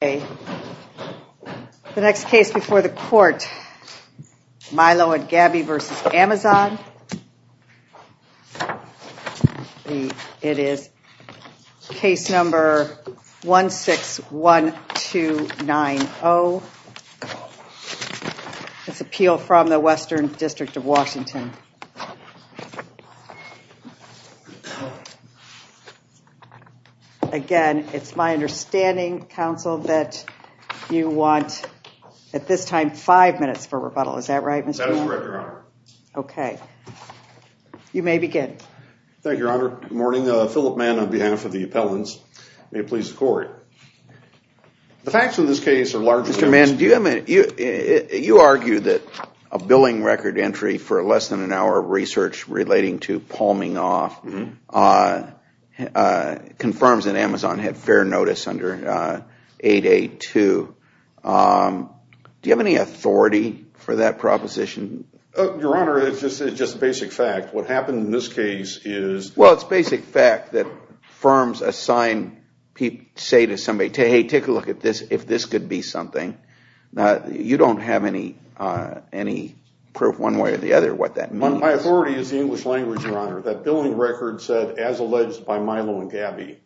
The next case before the court, Milo & Gabby v. Amazon. It is case number 161290. It's an appeal from the Western District of Washington. Again, it's my understanding, counsel, that you want, at this time, five minutes for rebuttal. Is that right? That is correct, Your Honor. Okay. You may begin. Thank you, Your Honor. Good morning. Philip Mann on behalf of the appellants. May it please the court. The facts in this case are largely... Mr. Mann, do you have a minute? You argue that a billing record entry for less than an hour of research relating to palming off confirms that it's under 8A2. Do you have any authority for that proposition? Your Honor, it's just a basic fact. What happened in this case is... Well, it's basic fact that firms assign... say to somebody, hey, take a look at this, if this could be something. You don't have any proof one way or the other what that means. My authority is the English language, Your Honor. That billing record said, as alleged by Milo and Gabby.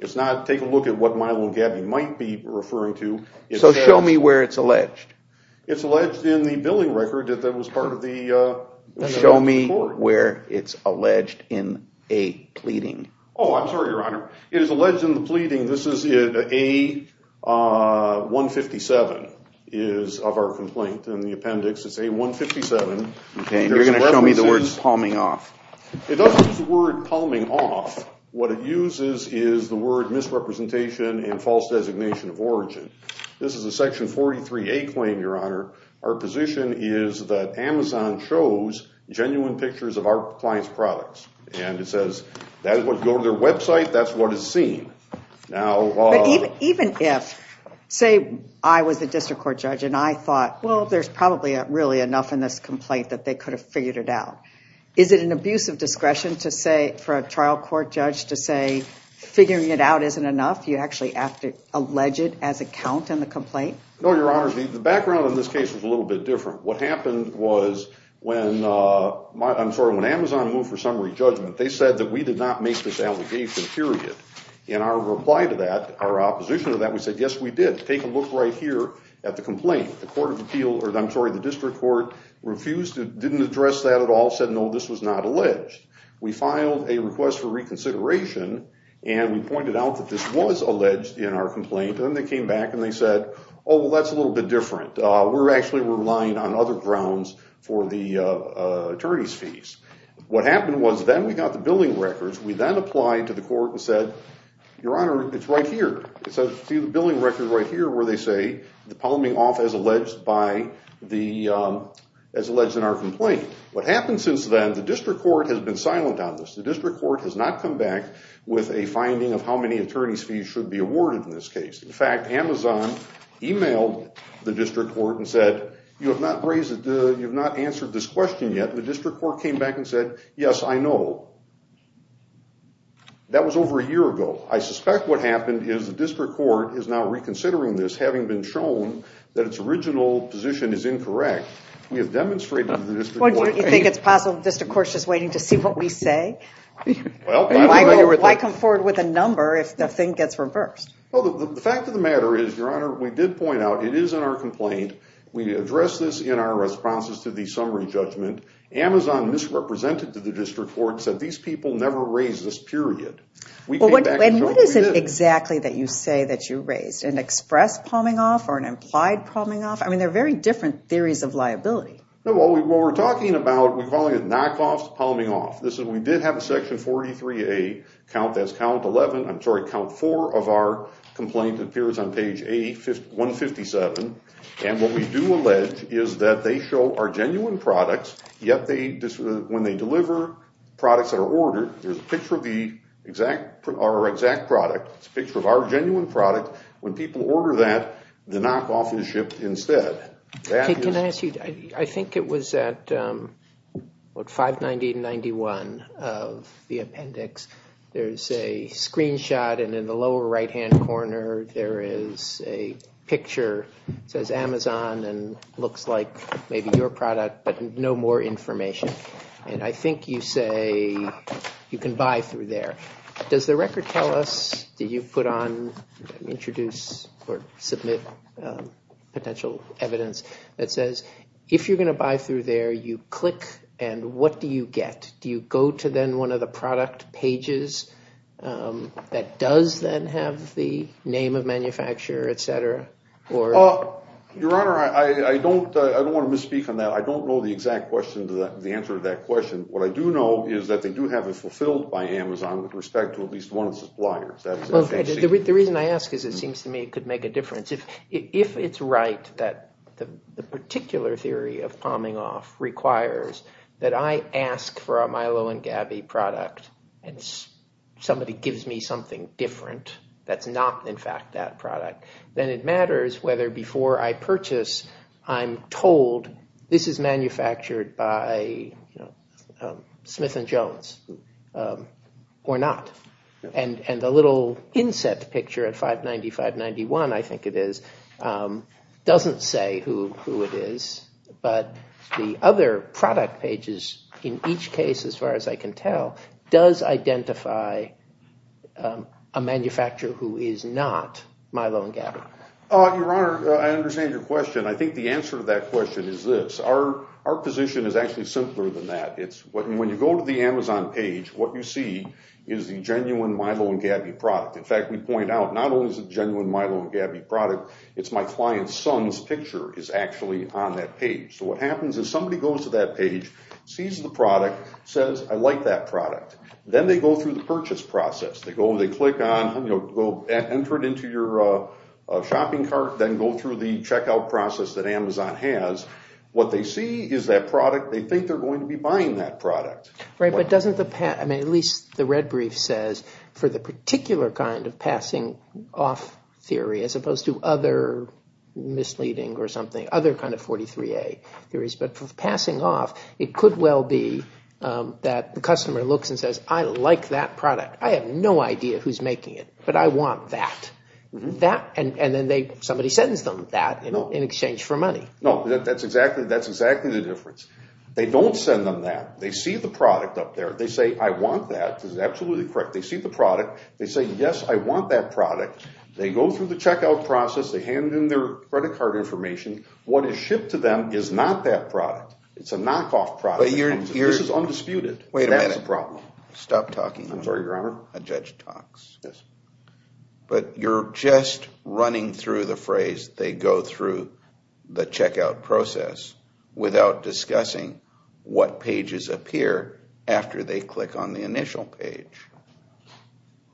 It's not, take a look at what Milo and Gabby might be referring to. So show me where it's alleged. It's alleged in the billing record that that was part of the... Show me where it's alleged in a pleading. Oh, I'm sorry, Your Honor. It is alleged in the pleading. This is A157 of our complaint in the appendix. It's A157. Okay, you're going to show me the words palming off. It doesn't use the word palming off. What it uses is the word misrepresentation and false designation of origin. This is a Section 43A claim, Your Honor. Our position is that Amazon shows genuine pictures of our clients' products and it says that is what go to their website, that's what is seen. Now... Even if, say I was a district court judge and I thought, well, there's probably really enough in this complaint that they could have figured it out. Is it an abuse of discretion to say, for a trial court judge, to say figuring it out isn't enough? You actually have to allege it as a count in the complaint? No, Your Honor. The background in this case was a little bit different. What happened was when, I'm sorry, when Amazon moved for summary judgment, they said that we did not make this allegation, period. In our reply to that, our opposition to that, we said, yes, we did. Take a look right here at the complaint. The court of all said, no, this was not alleged. We filed a request for reconsideration and we pointed out that this was alleged in our complaint. Then they came back and they said, oh, well, that's a little bit different. We're actually relying on other grounds for the attorney's fees. What happened was then we got the billing records. We then applied to the court and said, Your Honor, it's right here. It says, see the billing record right here where they say the palming off as alleged by the, as alleged in our complaint. What happened since then, the district court has been silent on this. The district court has not come back with a finding of how many attorney's fees should be awarded in this case. In fact, Amazon emailed the district court and said, you have not raised, you've not answered this question yet. The district court came back and said, yes, I know. That was over a year ago. I suspect what happened is the district court is now reconsidering this, having been shown that its original position is incorrect. We have demonstrated to the district court. Do you think it's possible the district court is just waiting to see what we say? Well, why come forward with a number if the thing gets reversed? Well, the fact of the matter is, Your Honor, we did point out it is in our complaint. We addressed this in our responses to the summary judgment. Amazon misrepresented to the district court, said these people never raised this, period. We came back and showed that we did. Exactly that you say that you raised. An express palming off or an implied palming off? I mean, they're very different theories of liability. No, what we're talking about, we're calling it knockoffs palming off. This is, we did have a section 43A count, that's count 11, I'm sorry, count four of our complaint appears on page 157. And what we do allege is that they show our genuine products, yet when they deliver products that are ordered, there's a picture of the exact product. It's a picture of our genuine product. When people order that, the knockoff is shipped instead. Can I ask you, I think it was at 590.91 of the appendix. There's a screenshot and in the lower right hand corner, there is a picture. It says Amazon and looks like maybe your product, but no more information. And I think you say you can buy through there. Does the record tell us, did you put on, introduce or submit potential evidence that says, if you're going to buy through there, you click and what do you get? Do you go to then one of the product pages that does then have the name of manufacturer, et cetera? Your Honor, I don't want to misspeak on that. I don't know the exact question, the answer to that question. What I do know is that they do have it fulfilled by Amazon with respect to at least one of the suppliers. The reason I ask is it seems to me it could make a difference. If it's right that the particular theory of palming off requires that I ask for a Milo and Gabby product and somebody gives me something different that's not in fact that product, then it matters whether before I purchase, I'm told this is manufactured by Smith and Jones or not. And the little inset picture at 590, 591, I think it is, doesn't say who it is. But the other product pages in each case, as far as I can tell, does identify a manufacturer who is not Milo and Gabby. Your Honor, I understand your question. I think the answer to that question is this. Our position is actually simpler than that. When you go to the Amazon page, what you see is the genuine Milo and Gabby product. In fact, we point out not only is it genuine Milo and Gabby product, it's my client's son's picture is actually on that page. So what happens is somebody goes to that page, sees the product, says I like that product. Then they go through the purchase process. They click on, enter it into your shopping cart, then go through the checkout process that Amazon has. What they see is that product, they think they're going to be buying that product. Right, but doesn't the, at least the red brief says, for the particular kind of passing off theory as opposed to other misleading or something, other kind of 43A theories. But for passing off, it could well be that the customer looks and says, I like that product. I have no idea who's making it, but I want that. And then somebody sends them that in exchange for money. No, that's exactly the difference. They don't send them that. They see the product up there. They say, I want that. This is absolutely correct. They see the product. They say, yes, I want that product. They go through the checkout process. They hand in their credit card information. What is shipped to them is not that product. It's a knockoff product. This is undisputed. Wait a minute. Stop talking. I'm sorry, Your Honor. A judge talks. But you're just running through the phrase, they go through the checkout process without discussing what pages appear after they click on the initial page.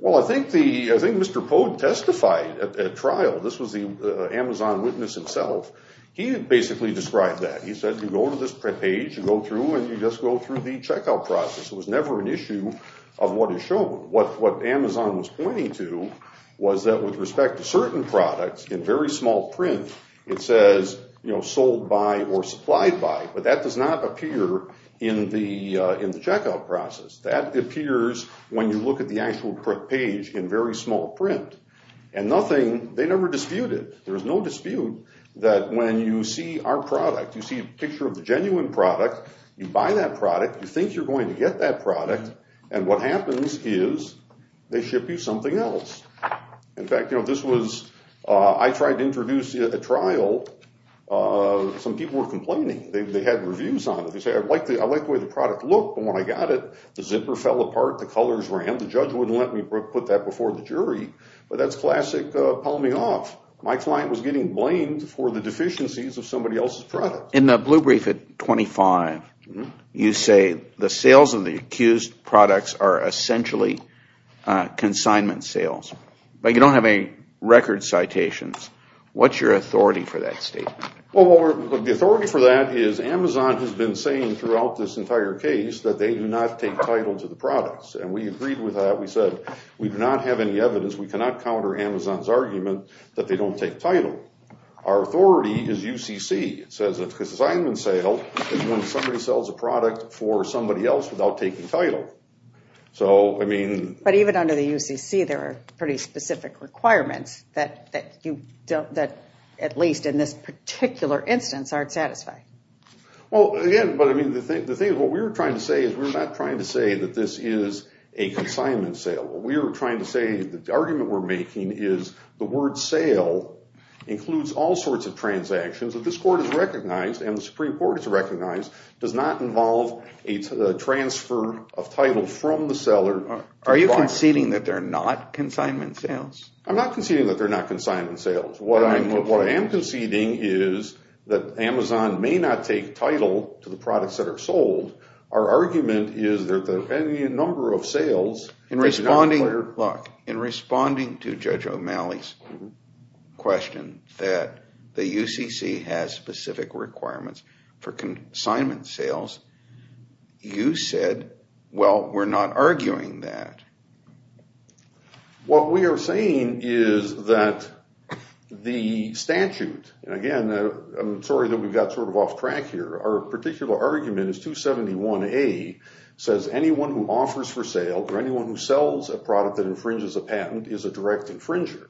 Well, I think Mr. Pogue testified at trial. This was the Amazon witness himself. He basically described that. He said, you go to this page, you go through, and you just go through the checkout process. It was never an issue of what is shown. What Amazon was pointing to was that with respect to certain products in very small print, it says sold by or supplied by, but that does not appear in the checkout process. That appears when you look at the actual page in very small print. And nothing, they never disputed. There's no dispute that when you see our product, you see a product, and what happens is they ship you something else. In fact, I tried to introduce a trial. Some people were complaining. They had reviews on it. They said, I like the way the product looked, but when I got it, the zipper fell apart, the colors ran. The judge wouldn't let me put that before the jury, but that's classic palming off. My client was getting blamed for the deficiencies of somebody else's product. In the blue brief at 25, you say the sales of the accused products are essentially consignment sales, but you don't have any record citations. What's your authority for that statement? Well, the authority for that is Amazon has been saying throughout this entire case that they do not take title to the products, and we agreed with that. We said we do not have any evidence. We cannot counter Amazon's argument that they don't take title. Our authority is UCC. It says consignment sale is when somebody sells a product for somebody else without taking title. Even under the UCC, there are pretty specific requirements that at least in this particular instance aren't satisfied. Well, again, what we're trying to say is we're not trying to say that this is a consignment sale. What we're trying to say, the argument we're making is the word sale includes all sorts of transactions that this court has recognized and the Supreme Court has recognized does not involve a transfer of title from the seller. Are you conceding that they're not consignment sales? I'm not conceding that they're not consignment sales. What I am conceding is that Amazon may not take title to the products that are sold. Our argument is that the number of questions that the UCC has specific requirements for consignment sales, you said, well, we're not arguing that. What we are saying is that the statute, and again, I'm sorry that we got sort of off track here. Our particular argument is 271A says anyone who offers for sale or anyone who sells a product that infringes a patent is a direct infringer.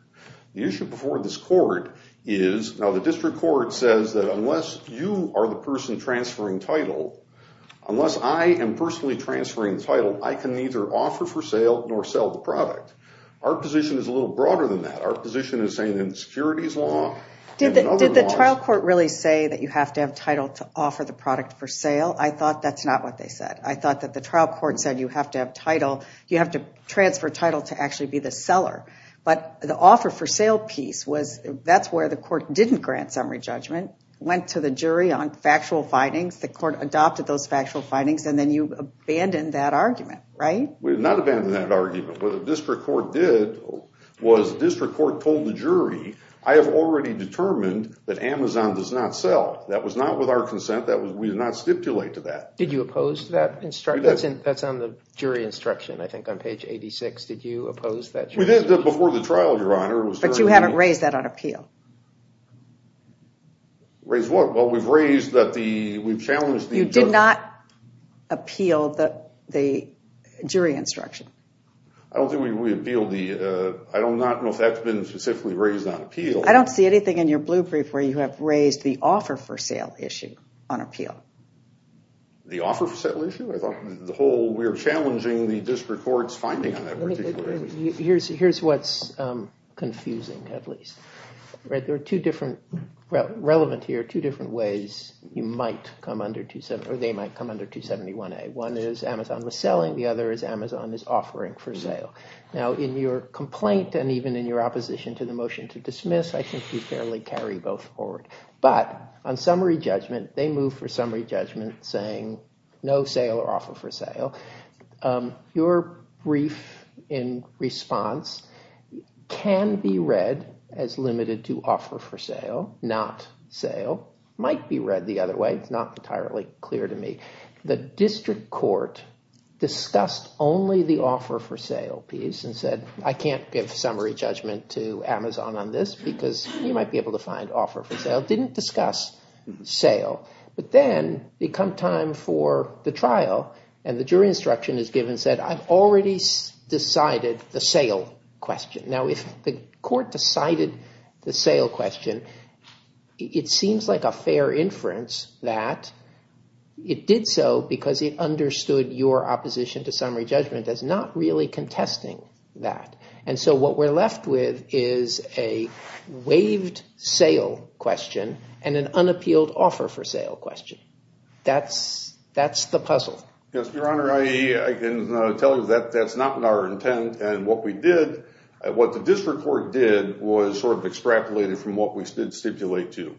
The issue before this court is, now the district court says that unless you are the person transferring title, unless I am personally transferring title, I can neither offer for sale nor sell the product. Our position is a little broader than that. Our position is saying in the securities law. Did the trial court really say that you have to have title to offer the product for sale? I thought that's not what they said. I thought that the trial court said you have to transfer title to actually be the seller. But the offer for sale piece, that's where the court didn't grant summary judgment, went to the jury on factual findings, the court adopted those factual findings, and then you abandoned that argument, right? We did not abandon that argument. What the district court did was the district court told the jury, I have already determined that Amazon does not sell. That was not with our consent. We did not stipulate to that. Did you oppose that? That's on the jury instruction, I think, on page 86. Did you oppose that? We did that before the trial, Your Honor. But you haven't raised that on appeal. Raised what? Well, we've raised that the, we've challenged the- You did not appeal the jury instruction. I don't think we appealed the, I do not know if that's been specifically raised on appeal. I don't see anything in your the offer for sale issue. I thought the whole, we're challenging the district court's finding on that particular issue. Here's what's confusing, at least. There are two different, relevant here, two different ways you might come under 271, or they might come under 271A. One is Amazon was selling. The other is Amazon is offering for sale. Now, in your complaint and even in your opposition to the motion to dismiss, I think you fairly carry both forward. But on summary judgment, they move for summary judgment saying no sale or offer for sale. Your brief in response can be read as limited to offer for sale, not sale. Might be read the other way. It's not entirely clear to me. The district court discussed only the offer for sale piece and said I can't give summary judgment to Amazon on this because you might be able to find offer for sale. Didn't discuss sale. But then they come time for the trial and the jury instruction is given, said I've already decided the sale question. Now, if the court decided the sale question, it seems like a fair inference that it did so because it understood your opposition to summary judgment as not really and an unappealed offer for sale question. That's the puzzle. Yes, Your Honor, I can tell you that that's not our intent. And what we did, what the district court did was sort of extrapolated from what we did stipulate to.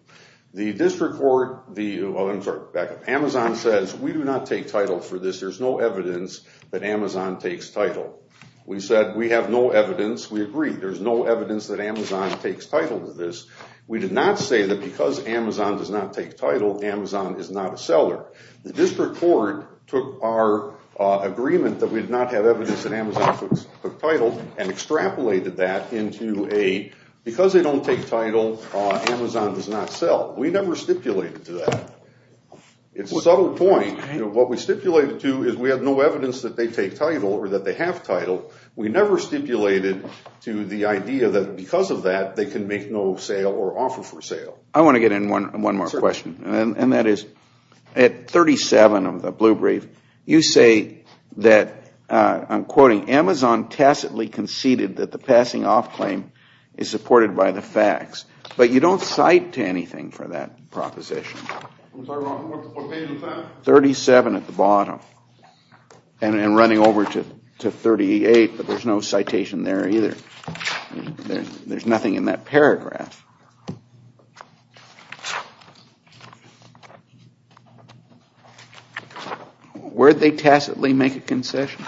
The district court, the Amazon says we do not take title for this. There's no evidence that Amazon takes title. We said we have no evidence. We agree there's no evidence that Amazon takes title to this. We did not say that because Amazon does not take title, Amazon is not a seller. The district court took our agreement that we did not have evidence that Amazon took title and extrapolated that into a because they don't take title, Amazon does not sell. We never stipulated to that. It's a subtle point. What we stipulated to is we have no evidence that they take title or that they have title. We never stipulated to the idea that because of that, they can make no sale or offer for sale. I want to get in one more question, and that is at 37 of the blue brief, you say that, I'm quoting, Amazon tacitly conceded that the passing off claim is supported by the facts, but you don't cite to anything for that proposition. What page is that? 37 at the bottom and running over to 38, but there's no citation there either. There's nothing in that paragraph. Where'd they tacitly make a concession?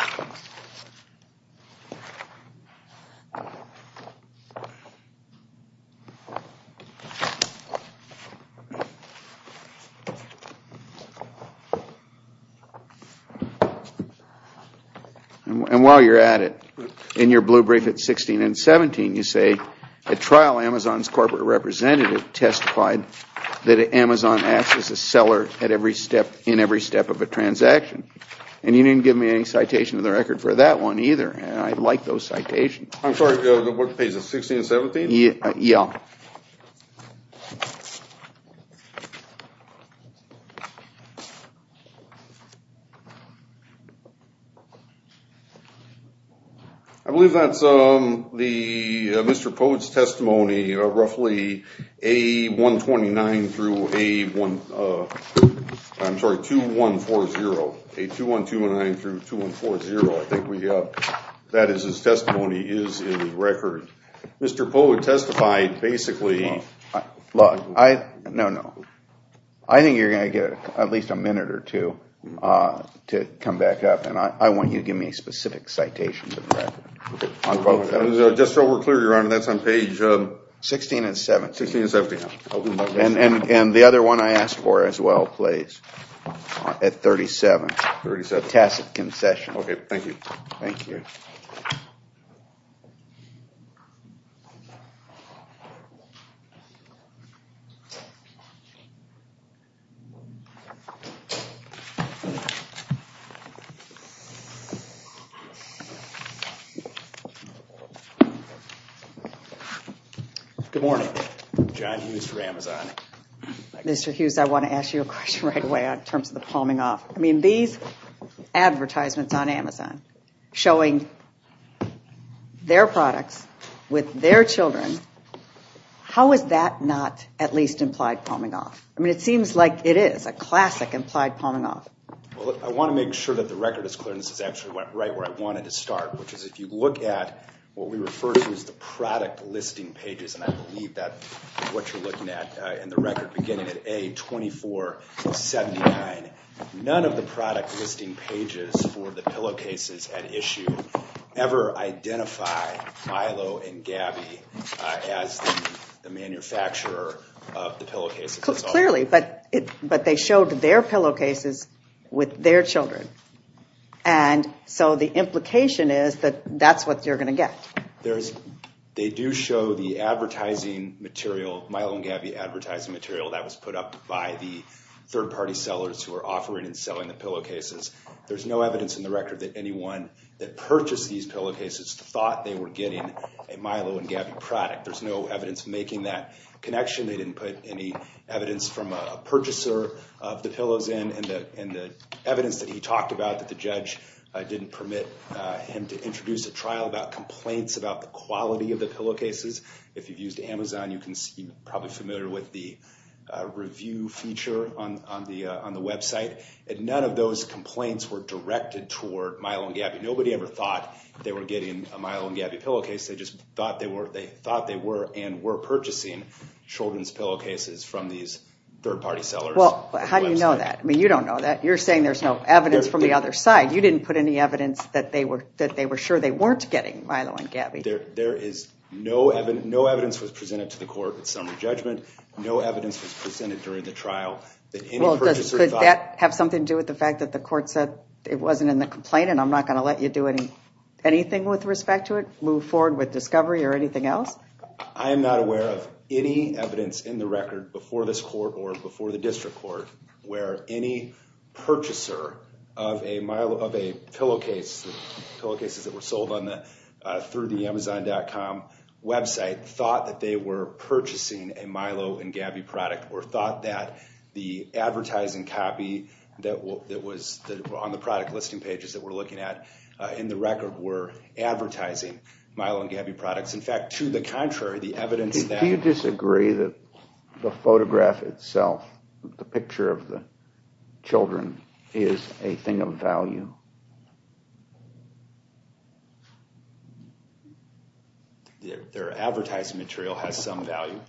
And while you're at it, in your blue brief at 16 and 17, you say, at trial, Amazon's corporate representative testified that Amazon acts as a seller at every step, in every step of a transaction, and you didn't give me any citation of the record for that one either, and I like those citations. I'm sorry, the what page, 16 and 17? Yeah. I believe that's the Mr. Pote's testimony, roughly A129 through A1, I'm sorry, 2140, A2129 through 2140. I think that is his testimony, is in the record. Mr. Pote testified basically... No, no, I think you're going to get at least a minute or two to come back up, and I want you to give me a specific citation of the record on both of those. Just so we're clear, Your Honor, that's on page... 16 and 17. And the other one I asked for as well, please, at 37, the tacit concession. Okay, thank you. Thank you. Good morning, John Hughes for Amazon. Mr. Hughes, I want to ask you a question right away in terms of the palming off. I mean, these advertisements on Amazon showing their products with their children, how is that not at least implied palming off? I mean, it seems like it is a classic implied palming off. Well, I want to make sure that the record is clear, and this is actually right where I wanted to start, which is if you look at what we refer to as the product listing pages, and I believe that is what you're looking at in the record, beginning at A2479, none of the product listing pages for the pillowcases at issue ever identify Milo and Gabby as the manufacturer of the pillowcases. Clearly, but they showed their pillowcases with their children, and so the implication is that that's what you're going to get. They do show the advertising material, Milo and Gabby advertising material that was put up by the third-party sellers who are offering and selling the pillowcases. There's no evidence in the record that anyone that purchased these pillowcases thought they were getting a Milo and Gabby product. There's no evidence making that connection. They didn't put any evidence from a purchaser of the pillows in, and the evidence that he talked about that the judge didn't permit him to introduce a trial about complaints about the quality of the pillowcases. If you've used Amazon, you're probably familiar with the review feature on the website, and none of those complaints were directed toward Milo and Gabby. Nobody ever thought they were getting a Milo and Gabby pillowcase. They just thought they were, and were purchasing children's pillowcases from these third-party sellers. Well, how do you know that? I mean, you don't know that. You're saying there's no evidence from the other side. You didn't put any evidence that they were sure they weren't getting Milo and Gabby. There is no evidence. No evidence was presented to the court at summer judgment. No evidence was presented during the trial that any purchaser thought... Well, does that have something to do with the fact that the court said it wasn't in the complaint, and I'm not going to let you do anything with respect to it, move forward with discovery or anything else? I am not aware of any evidence in the record before this court or before the district court where any purchaser of a pillowcase, the pillowcases that were sold through the Amazon.com website, thought that they were purchasing a Milo and Gabby product or thought that the advertising copy that was on the product listing pages that we're looking at in the record were advertising Milo and Gabby products. In fact, to the contrary, the evidence that... Do you disagree that the photograph itself, the picture of the children, is a thing of value? Their advertising material has some value.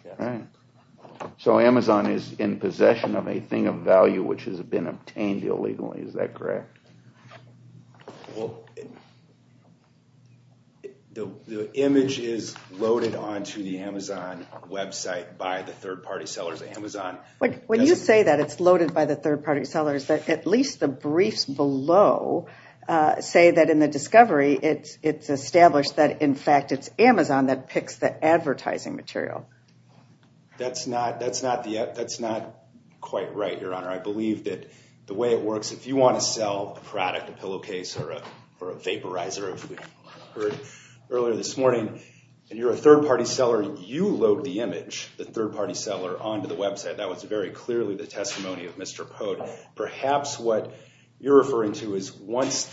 So Amazon is in possession of a thing of value which has been obtained illegally. Is that correct? Well, the image is loaded onto the Amazon website by the third-party sellers. Amazon... When you say that it's loaded by the third-party sellers, at least the briefs below say that in the discovery it's established that, in fact, it's Amazon that picks the advertising material. That's not quite right, Your Honor. I believe that the way it works, if you want to sell a product, a pillowcase or a vaporizer, as we heard earlier this morning, and you're a third-party seller, you load the image, the third-party seller, onto the website. That was very clearly the testimony of Mr. Pote. Perhaps what you're referring to is once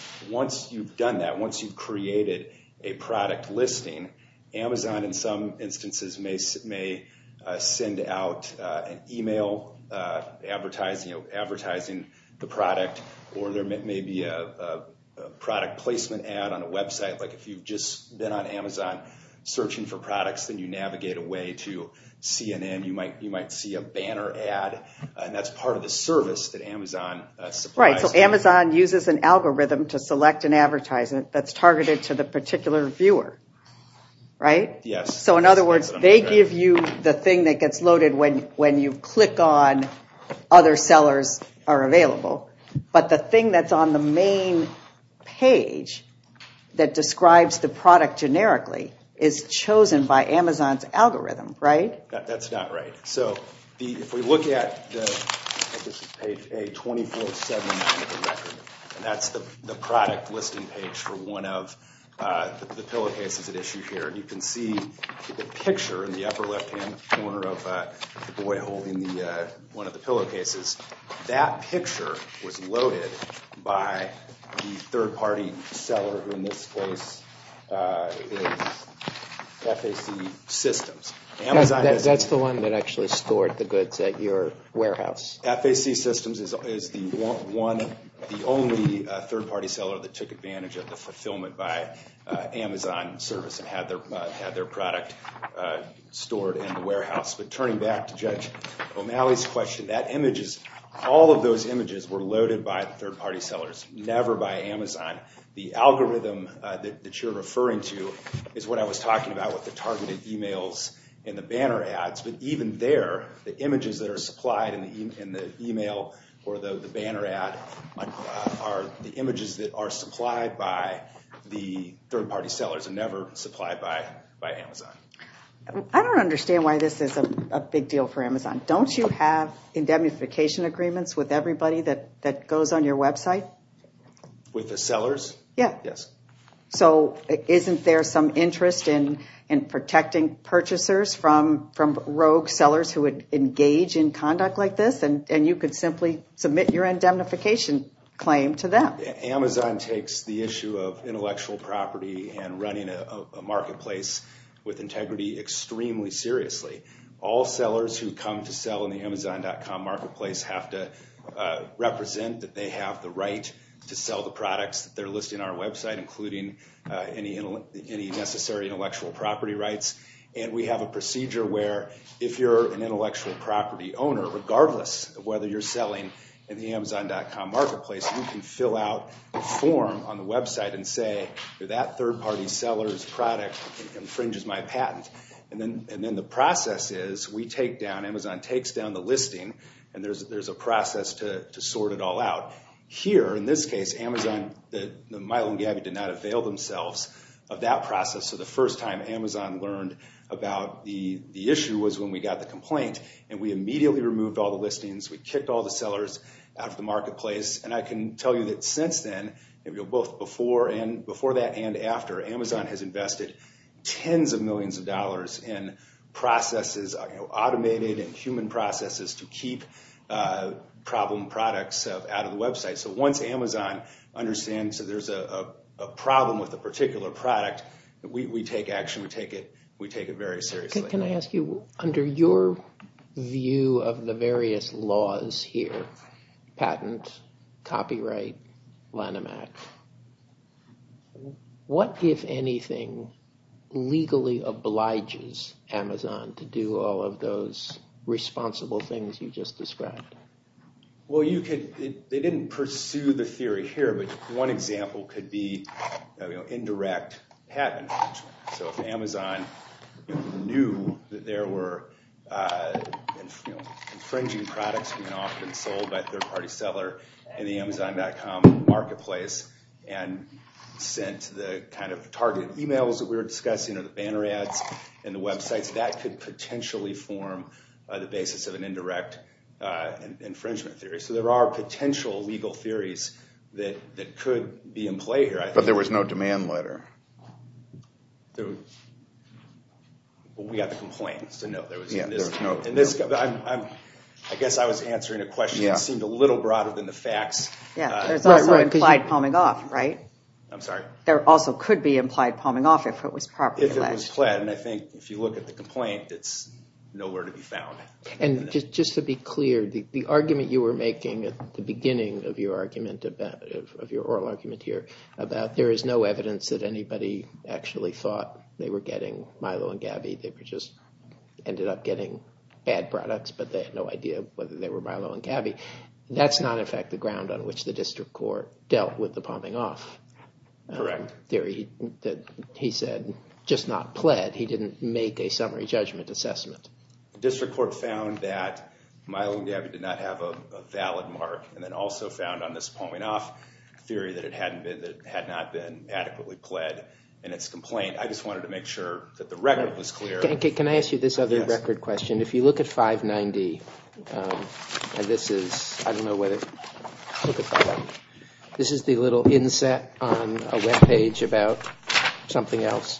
you've done that, once you've created a product listing, Amazon, in some instances, may send out an email advertising the product or there may be a product placement ad on a website. If you've just been on Amazon searching for products, then you navigate away to CNN. You might see a banner ad, and that's part of the service that Amazon supplies to you. Right, so Amazon uses an algorithm to select an advertisement that's targeted to the particular viewer. Right? Yes. So in other words, they give you the thing that gets loaded when you click on other sellers are available, but the thing that's on the main page that describes the product generically is chosen by Amazon's algorithm, right? That's not right. So if we look at page A2479 of the record, and that's the product listing page for one of the pillowcases at issue here, you can see the picture in the upper left-hand corner of the boy holding one of the pillowcases. That picture was loaded by the third-party seller in this case is FAC Systems. That's the one that actually stored the goods at your warehouse. FAC Systems is the one, the only third-party seller that took advantage of the fulfillment by Amazon service and had their product stored in the warehouse. But turning back to Judge O'Malley's question, that image is, all of images were loaded by third-party sellers, never by Amazon. The algorithm that you're referring to is what I was talking about with the targeted emails and the banner ads. But even there, the images that are supplied in the email or the banner ad are the images that are supplied by the third-party sellers and never supplied by Amazon. I don't understand why this is a big deal for Amazon. Don't you have indemnification agreements with everybody that goes on your website? With the sellers? Yeah. Yes. So isn't there some interest in protecting purchasers from rogue sellers who would engage in conduct like this? And you could simply submit your indemnification claim to them. Amazon takes the issue of intellectual property and running a marketplace with integrity extremely seriously. All sellers who come sell in the Amazon.com marketplace have to represent that they have the right to sell the products that they're listing on our website, including any necessary intellectual property rights. And we have a procedure where if you're an intellectual property owner, regardless of whether you're selling in the Amazon.com marketplace, you can fill out a form on the website and say, that third-party seller's product infringes my patent. And then the process is we take down, Amazon takes down the listing, and there's a process to sort it all out. Here, in this case, Amazon, the Milo and Gabby did not avail themselves of that process. So the first time Amazon learned about the issue was when we got the complaint, and we immediately removed all the listings. We kicked all the sellers out of the marketplace. And I can tell you that since then, both before that and after, Amazon has invested tens of millions of dollars in processes, automated and human processes, to keep problem products out of the website. So once Amazon understands that there's a problem with a particular product, we take action, we take it very seriously. Can I ask you, under your view of the various laws here, patent, copyright, Lanham Act, what, if anything, legally obliges Amazon to do all of those responsible things you just described? Well, they didn't pursue the theory here, but one example could be indirect patent infringement. So if Amazon knew that there were infringing products being marketplace and sent the kind of target emails that we were discussing, or the banner ads and the websites, that could potentially form the basis of an indirect infringement theory. So there are potential legal theories that could be in play here. But there was no demand letter. We got the complaints. I guess I was answering a question that seemed a little broader than the implied palming off, right? There also could be implied palming off if it was properly alleged. And I think if you look at the complaint, it's nowhere to be found. And just to be clear, the argument you were making at the beginning of your oral argument here about there is no evidence that anybody actually thought they were getting Milo and Gabby, they just ended up getting bad products, but they had no idea whether they were Milo and Gabby. That's not, in fact, the ground on which the district court dealt with the palming off theory that he said just not pled. He didn't make a summary judgment assessment. District court found that Milo and Gabby did not have a valid mark, and then also found on this palming off theory that it had not been adequately pled in its complaint. I just wanted to make sure that the record was clear. Can I ask you this other record question? If you look at 590, and this is, I don't know whether, look at that. This is the little inset on a web page about something else,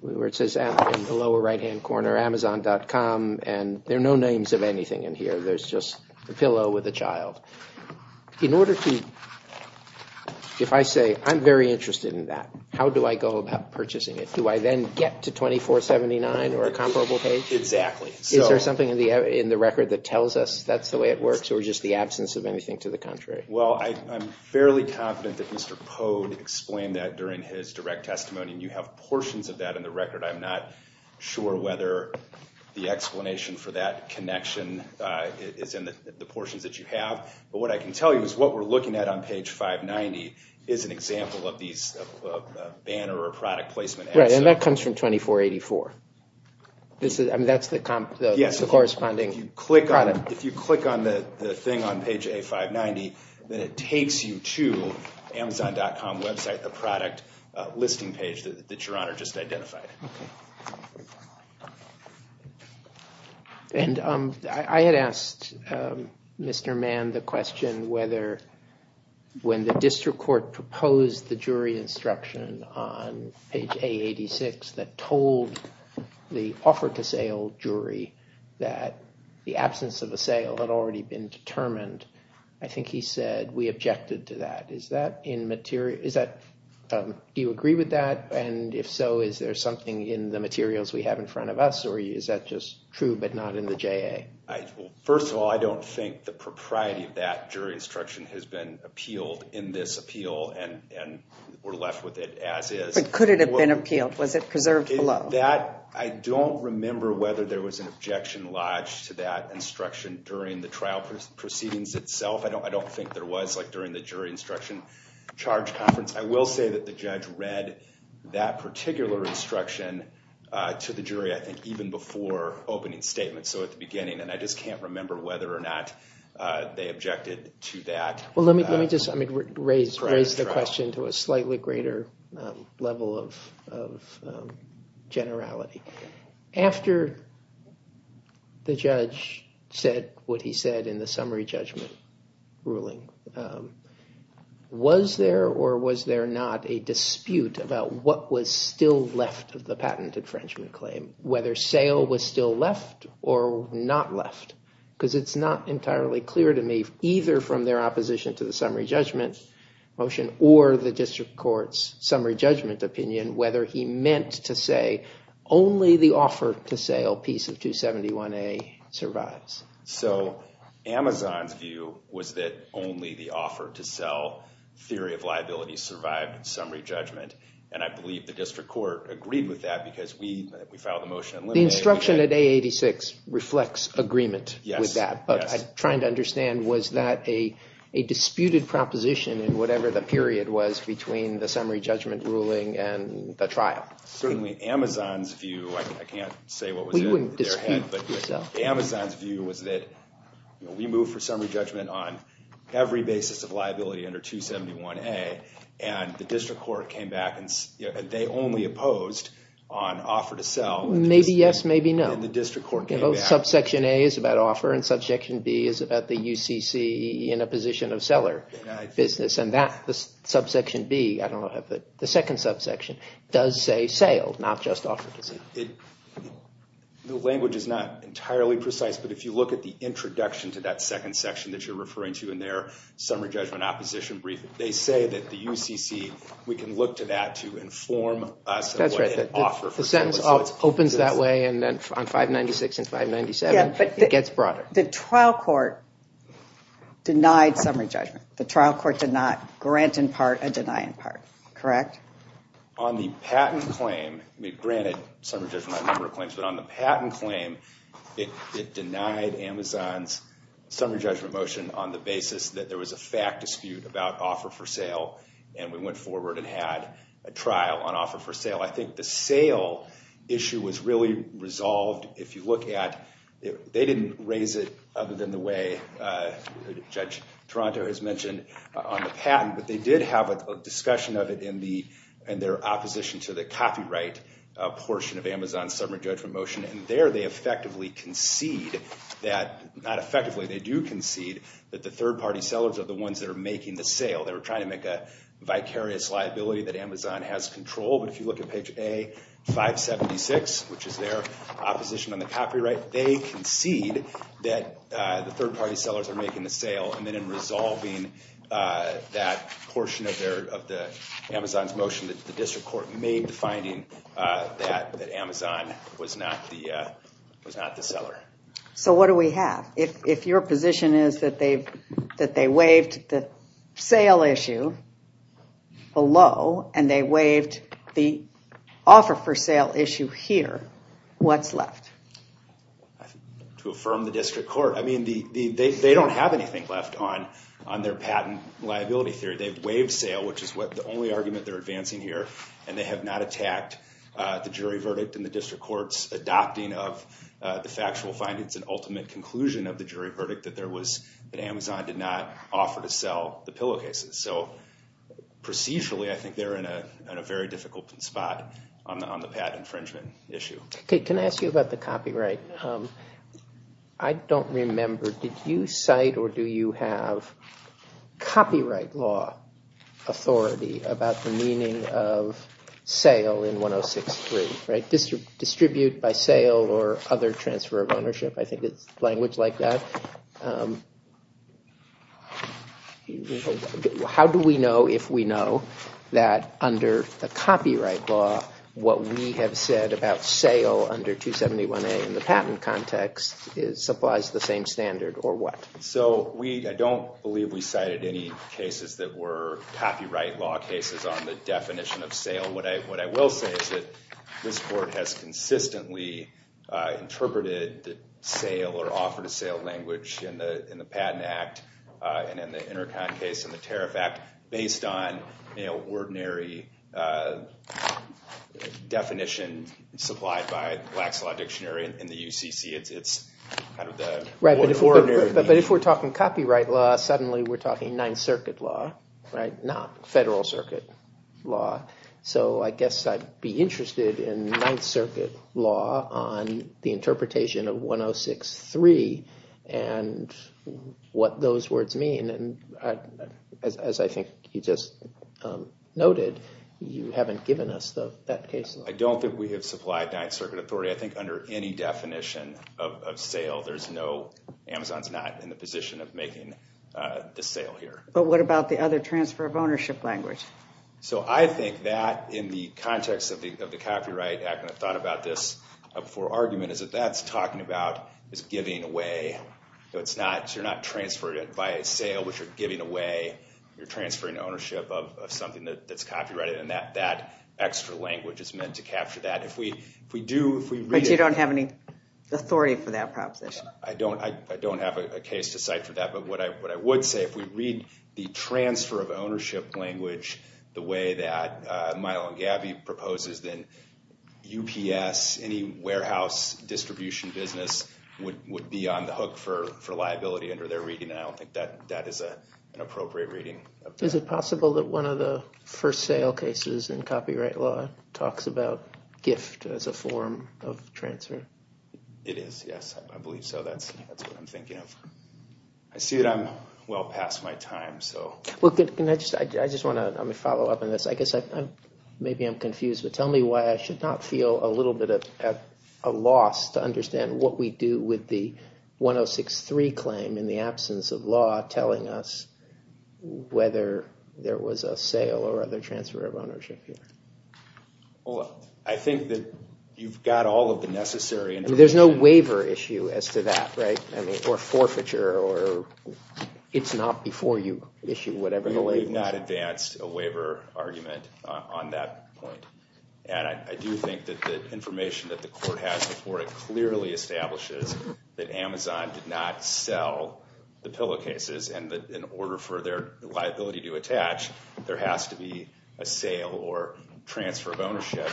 where it says in the lower right hand corner Amazon.com, and there are no names of anything in here. There's just a pillow with a child. In order to, if I say I'm very interested in that, how do I go about purchasing it? Do I then get to 2479 or a comparable page? Exactly. Is there something in the record that tells us that's the way it works, or just the absence of anything to the contrary? Well, I'm fairly confident that Mr. Pode explained that during his direct testimony, and you have portions of that in the record. I'm not sure whether the explanation for that connection is in the portions that you have, but what I can tell you is what we're looking at on page 590 is an example of these Right, and that comes from 2484. I mean, that's the corresponding product. If you click on the thing on page A590, then it takes you to Amazon.com website, the product listing page that your honor just identified. And I had asked Mr. Mann the question whether when the district court proposed the jury instruction on page A86 that told the offer to sale jury that the absence of a sale had already been determined. I think he said we objected to that. Do you agree with that? And if so, is there something in the materials we have in front of us, or is that just true but not in the JA? First of all, I don't think the propriety of that jury instruction has been appealed in this as is. But could it have been appealed? Was it preserved below? I don't remember whether there was an objection lodged to that instruction during the trial proceedings itself. I don't think there was during the jury instruction charge conference. I will say that the judge read that particular instruction to the jury, I think, even before opening statement, so at the beginning. And I just can't remember whether or not they objected to that. Well, let me just raise the question to a slightly greater level of generality. After the judge said what he said in the summary judgment ruling, was there or was there not a dispute about what was still left of the patent infringement claim, whether sale was still left or not left? Because it's not entirely clear to me either from their opposition to the summary judgment motion or the district court's summary judgment opinion whether he meant to say only the offer to sale piece of 271A survives. So Amazon's view was that only the offer to sell theory of liability survived summary judgment, and I believe the district court agreed with that because we filed the motion. The instruction at A86 reflects agreement with that, but I'm trying to understand was that a disputed proposition in whatever the period was between the summary judgment ruling and the trial. Certainly Amazon's view, I can't say what was in their head, but Amazon's view was that we moved for summary judgment on every basis of liability under 271A, and the district court came back and they only opposed on offer to sell. Maybe yes, maybe no. Subsection A is about offer and subsection B is about the UCC in a position of seller business, and that subsection B, I don't know, the second subsection does say sale, not just offer to sale. The language is not entirely precise, but if you look at the introduction to that second section that you're referring to in their summary judgment opposition brief, they say that the UCC, we can look to that to inform us. That's right, the sentence opens that way and then on 596 and 597 it gets broader. The trial court denied summary judgment. The trial court did not grant in part and deny in part, correct? On the patent claim, we granted summary judgment on a number of claims, but on the patent claim it denied Amazon's summary judgment motion on the basis that there was a fact dispute about offer for sale, and we went forward and had a trial on offer for sale. I think the sale issue was really resolved if you look at, they didn't raise it other than the way Judge Toronto has mentioned on the patent, but they did have a discussion of it in their opposition to the copyright portion of Amazon's summary judgment motion, and there they effectively concede that, not effectively, they do concede that the third party sellers are the ones that are making the sale. They were trying to make a vicarious liability that Amazon has control, but if you look at page A576, which is their opposition on the copyright, they concede that the third party sellers are making the sale, and then in resolving that portion of the Amazon's motion, the district court made the finding that Amazon was not the seller. So what do we have? If your position is that they waived the sale issue below, and they waived the offer for sale issue here, what's left? To affirm the district court, I mean, they don't have anything left on their patent liability theory. They've waived sale, which is the only argument they're advancing here, and they have not attacked the jury verdict in the district court's adopting of the factual findings and that Amazon did not offer to sell the pillowcases. So procedurally, I think they're in a very difficult spot on the patent infringement issue. Okay, can I ask you about the copyright? I don't remember, did you cite or do you have copyright law authority about the meaning of sale in 1063, right? Distribute by sale or other transfer of ownership, I think it's like that. How do we know if we know that under the copyright law, what we have said about sale under 271a in the patent context supplies the same standard or what? So I don't believe we cited any cases that were copyright law cases on the definition of sale. What I will say is that this court has consistently interpreted the sale or offer to sale language in the in the Patent Act and in the Intercon case and the Tariff Act based on, you know, ordinary definition supplied by Wax Law Dictionary in the UCC. But if we're talking copyright law, suddenly we're talking Ninth Circuit law, right, not Federal Circuit law. So I guess I'd be interested in Ninth Circuit law on the interpretation of 1063 and what those words mean and as I think you just noted, you haven't given us that case. I don't think we have supplied Ninth Circuit authority. I think under any definition of sale, Amazon's not in the position of making the sale here. But what about the other transfer of ownership language? So I think that in the context of the Copyright Act, and I've thought about this before argument, is that that's talking about is giving away. So it's not, you're not transferring it by a sale, but you're giving away, you're transferring ownership of something that's copyrighted and that extra language is meant to capture that. If we do... But you don't have any authority for that proposition? I don't have a case to cite for that, but what I would say, if we read the transfer of ownership language that Alan Gabby proposes, then UPS, any warehouse distribution business, would be on the hook for liability under their reading, and I don't think that that is an appropriate reading. Is it possible that one of the first sale cases in copyright law talks about gift as a form of transfer? It is, yes, I believe so. That's what I'm thinking of. I see that I'm well past my time, so... Well, can I just, I just want to follow up on this. I guess I'm, maybe I'm confused, but tell me why I should not feel a little bit of a loss to understand what we do with the 1063 claim in the absence of law telling us whether there was a sale or other transfer of ownership here. Well, I think that you've got all of the necessary information. There's no waiver issue as to that, right? I mean, or forfeiture, or it's not before you issue whatever the label is. We've not advanced a waiver argument on that point, and I do think that the information that the court has before it clearly establishes that Amazon did not sell the pillow cases, and that in order for their liability to attach, there has to be a sale or transfer of ownership.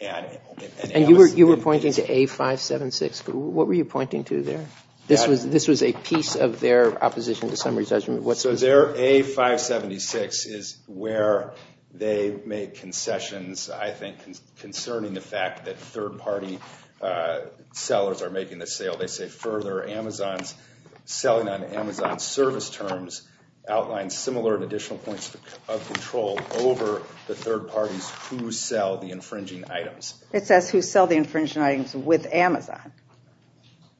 And you were pointing to A576. What were you pointing to there? This was a piece of their opposition to summary judgment. So their A576 is where they make concessions, I think, concerning the fact that third-party sellers are making the sale. They say, further, Amazon's selling on Amazon's service terms outlines similar and additional points of control over the third parties who sell the infringing items. It says who sell the infringing items with Amazon.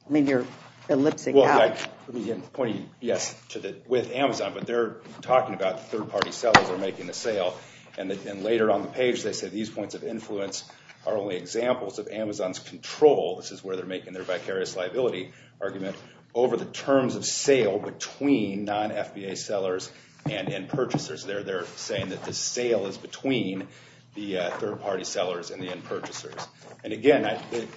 I mean, you're ellipsing out. Well, let me point you, yes, to the with Amazon, but they're talking about third-party sellers are making the sale, and then later on the page, they say these points of influence are only examples of Amazon's control. This is where they're making their vicarious liability argument over the terms of sale between non-FBA sellers and end purchasers. They're saying that the sale is between the third-party sellers and the end purchasers. And again, the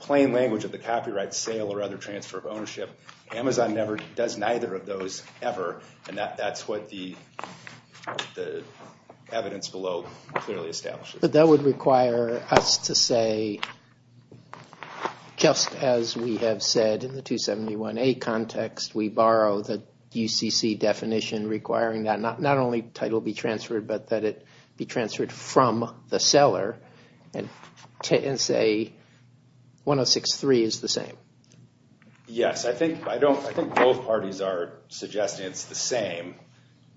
plain language of the copyright sale or other transfer of ownership, Amazon never does neither of those ever, and that's what the evidence below clearly establishes. But that would require us to say, just as we have said in the 271A context, we borrow the UCC definition requiring that not only title be transferred, but that it be transferred from the seller and say 106.3 is the same. Yes, I think both parties are suggesting it's the same,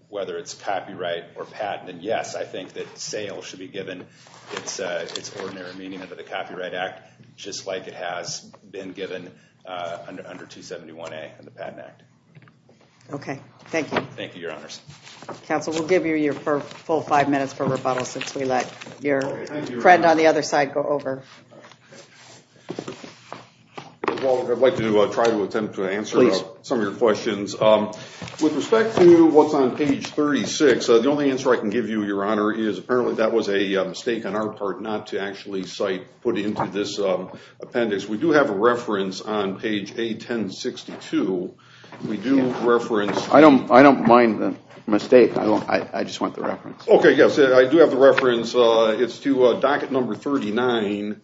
whether it's copyright or patent. And yes, I think that sale should be given its ordinary meaning under the Copyright Act, just like it has been given under 271A in the Patent Act. Okay, thank you. Thank you, Your Honors. Counsel, we'll give you your full five minutes for rebuttal since we let your friend on the other side go over. Well, I'd like to try to attempt to answer some of your questions. With respect to what's on page 36, the only answer I can give you, Your Honor, is apparently that was a mistake on our part not to actually cite, put into this appendix. We do have a reference on page 1062. I don't mind the mistake. I just want the reference. Okay, yes, I do have the reference. It's to docket number 39.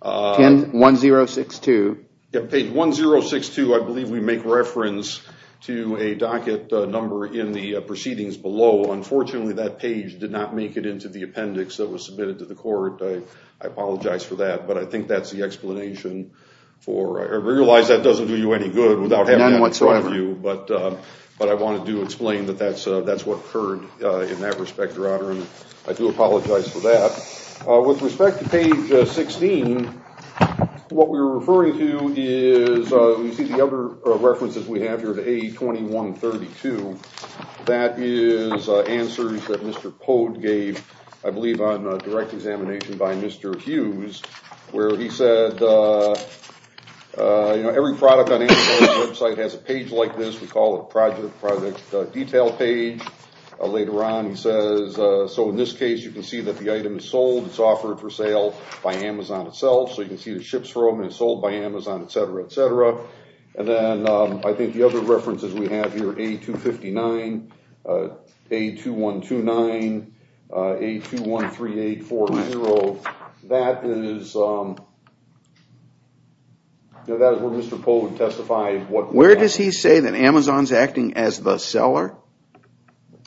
Page 1062. Page 1062, I believe we make reference to a docket number in the proceedings below. Unfortunately, that page did not make it into the appendix that was submitted to the court. I apologize for that, but I think that's the explanation. I realize that doesn't do you any good without having that in front of you, but I wanted to explain that that's what occurred in that respect, Your Honor, and I do apologize for that. With respect to page 16, what we're referring to is, you see the other references we have here, A2132, that is answers that Mr. Pode gave, I believe on direct examination by Mr. Hughes, where he said, you know, every product on Amazon's website has a page like this. We call it a project detail page. Later on, he says, so in this case, you can see that the item is sold. It's offered for sale by Amazon itself. So you can see the ships for them, and it's sold by Amazon, et cetera, et cetera. And then I think the other references we have here, A259, A2129, A213840, that is where Mr. Pode testified. Where does he say that Amazon's acting as the seller?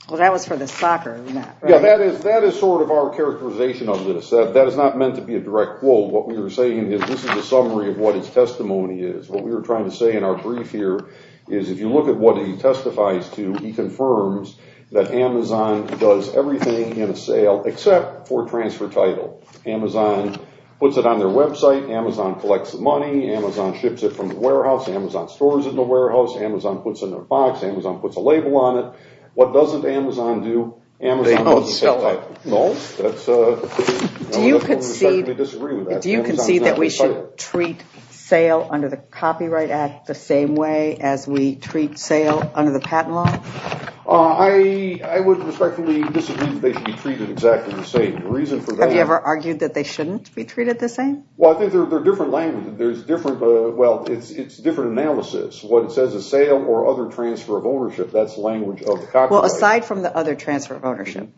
Well, that was for the soccer, right? Yeah, that is sort of our characterization of this. That is not meant to be a direct quote. What we were saying is this is a summary of what his testimony is. What we were trying to say in our brief here is if you look at what he testifies to, he confirms that Amazon does everything in a sale except for transfer title. Amazon puts it on their website. Amazon collects the money. Amazon ships it from the warehouse. Amazon stores it in the warehouse. Amazon puts it in a box. Amazon puts a label on it. What doesn't Amazon do? They don't sell it. No, that's a... Do you concede that we should treat sale under the Copyright Act the same way as we treat sale under the patent law? I would respectfully disagree that they should be treated exactly the same. The reason for that... Have you ever argued that they shouldn't be treated the same? Well, I think they're different languages. There's different... Well, it's different analysis. What it says is sale or other transfer of ownership. That's the language of the Copyright Act. Aside from the other transfer of ownership,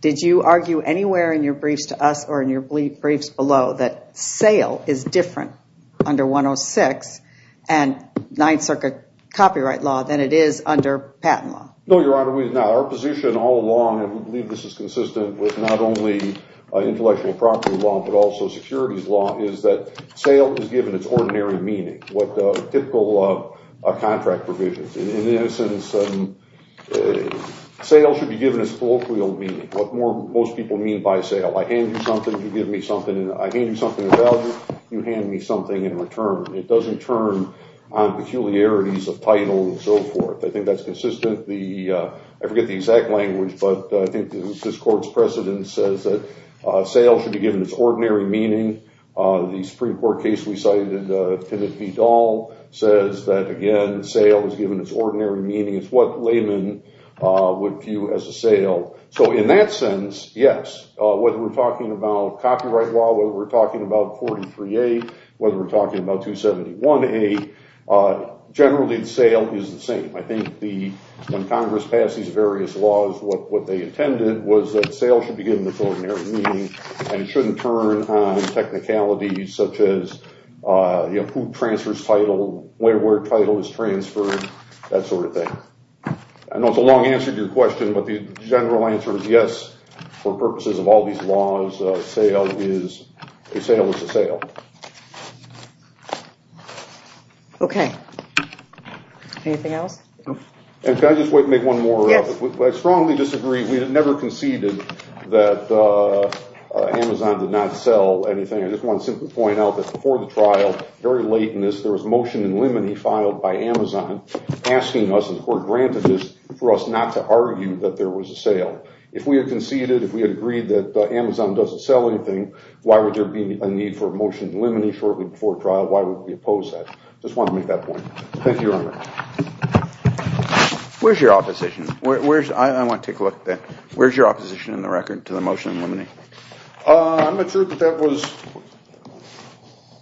did you argue anywhere in your briefs to us or in your briefs below that sale is different under 106 and Ninth Circuit copyright law than it is under patent law? No, Your Honor, we've not. Our position all along, and we believe this is consistent with not only intellectual property law, but also securities law, is that sale is given its ordinary meaning. What typical contract provisions. In this instance, sale should be given its colloquial meaning. What most people mean by sale. I hand you something, you give me something, and I hand you something of value, you hand me something in return. It doesn't turn on peculiarities of title and so forth. I think that's consistent. I forget the exact language, but I think this Court's precedent says that sale should be given its ordinary meaning. The Supreme Court case we cited, Pinnock v. Dahl, says that, again, sale is given its ordinary meaning. It's what laymen would view as a sale. So in that sense, yes, whether we're talking about copyright law, whether we're talking about 43A, whether we're talking about 271A, generally sale is the same. I think when Congress passed these various laws, what they intended was that sale should be given its ordinary meaning, and it shouldn't turn on technicalities such as who transfers title, where title is transferred, that sort of thing. I know it's a long answer to your question, but the general answer is yes, for purposes of all these laws, a sale is a sale. Okay. Anything else? Can I just make one more? I strongly disagree. We never conceded that Amazon did not sell anything. I just want to simply point out that before the trial, very late in this, there was motion in limine filed by Amazon asking us, and the court granted this, for us not to argue that there was a sale. If we had conceded, if we had agreed that Amazon doesn't sell anything, why would there be a need for a motion in limine shortly before trial? Why would we oppose that? I just want to make that point. Thank you, Your Honor. Where's your opposition? I want to take a look at that. Where's your opposition in the record to the motion in limine? I'm not sure that that was...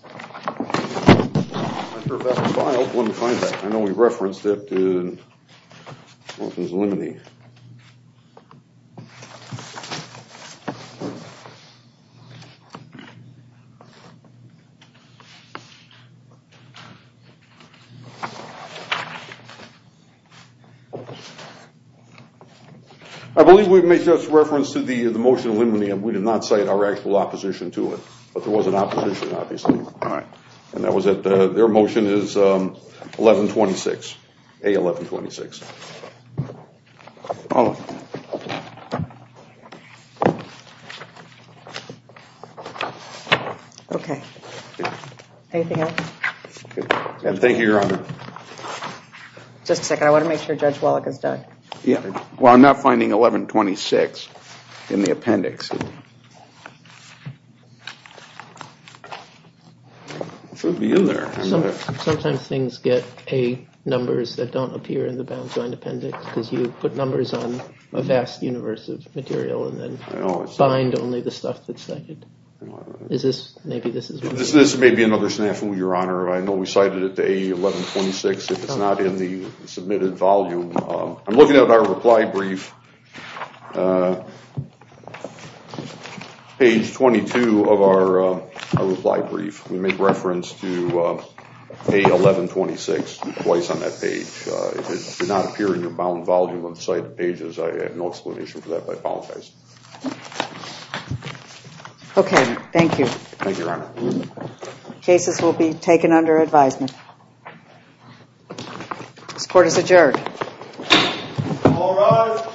I'm not sure if that was filed. Let me find that. I know we referenced it in motions in limine. I believe we made just reference to the motion in limine, and we did not cite our actual opposition to it. But there was an opposition, obviously. All right. And that was at... Their motion is A1126. Hold on. Okay. Anything else? Thank you, Your Honor. Just a second. I want to make sure Judge Wallach is done. Yeah. Well, I'm not finding 1126 in the appendix. It should be in there. Sometimes things get A numbers that don't appear in the bound joint appendix, because you put numbers on a vast universe of material and then find only the stuff that's cited. Is this... Maybe this is... This may be another snafu, Your Honor. I know we cited it to A1126. If it's not in the submitted volume, I'm looking at our reply brief. Page 22 of our reply brief, we make reference to A1126 twice on that page. If it did not appear in your bound volume of cited pages, I have no explanation for that. I apologize. Okay. Thank you. Thank you, Your Honor. Cases will be taken under advisement. This court is adjourned. All rise.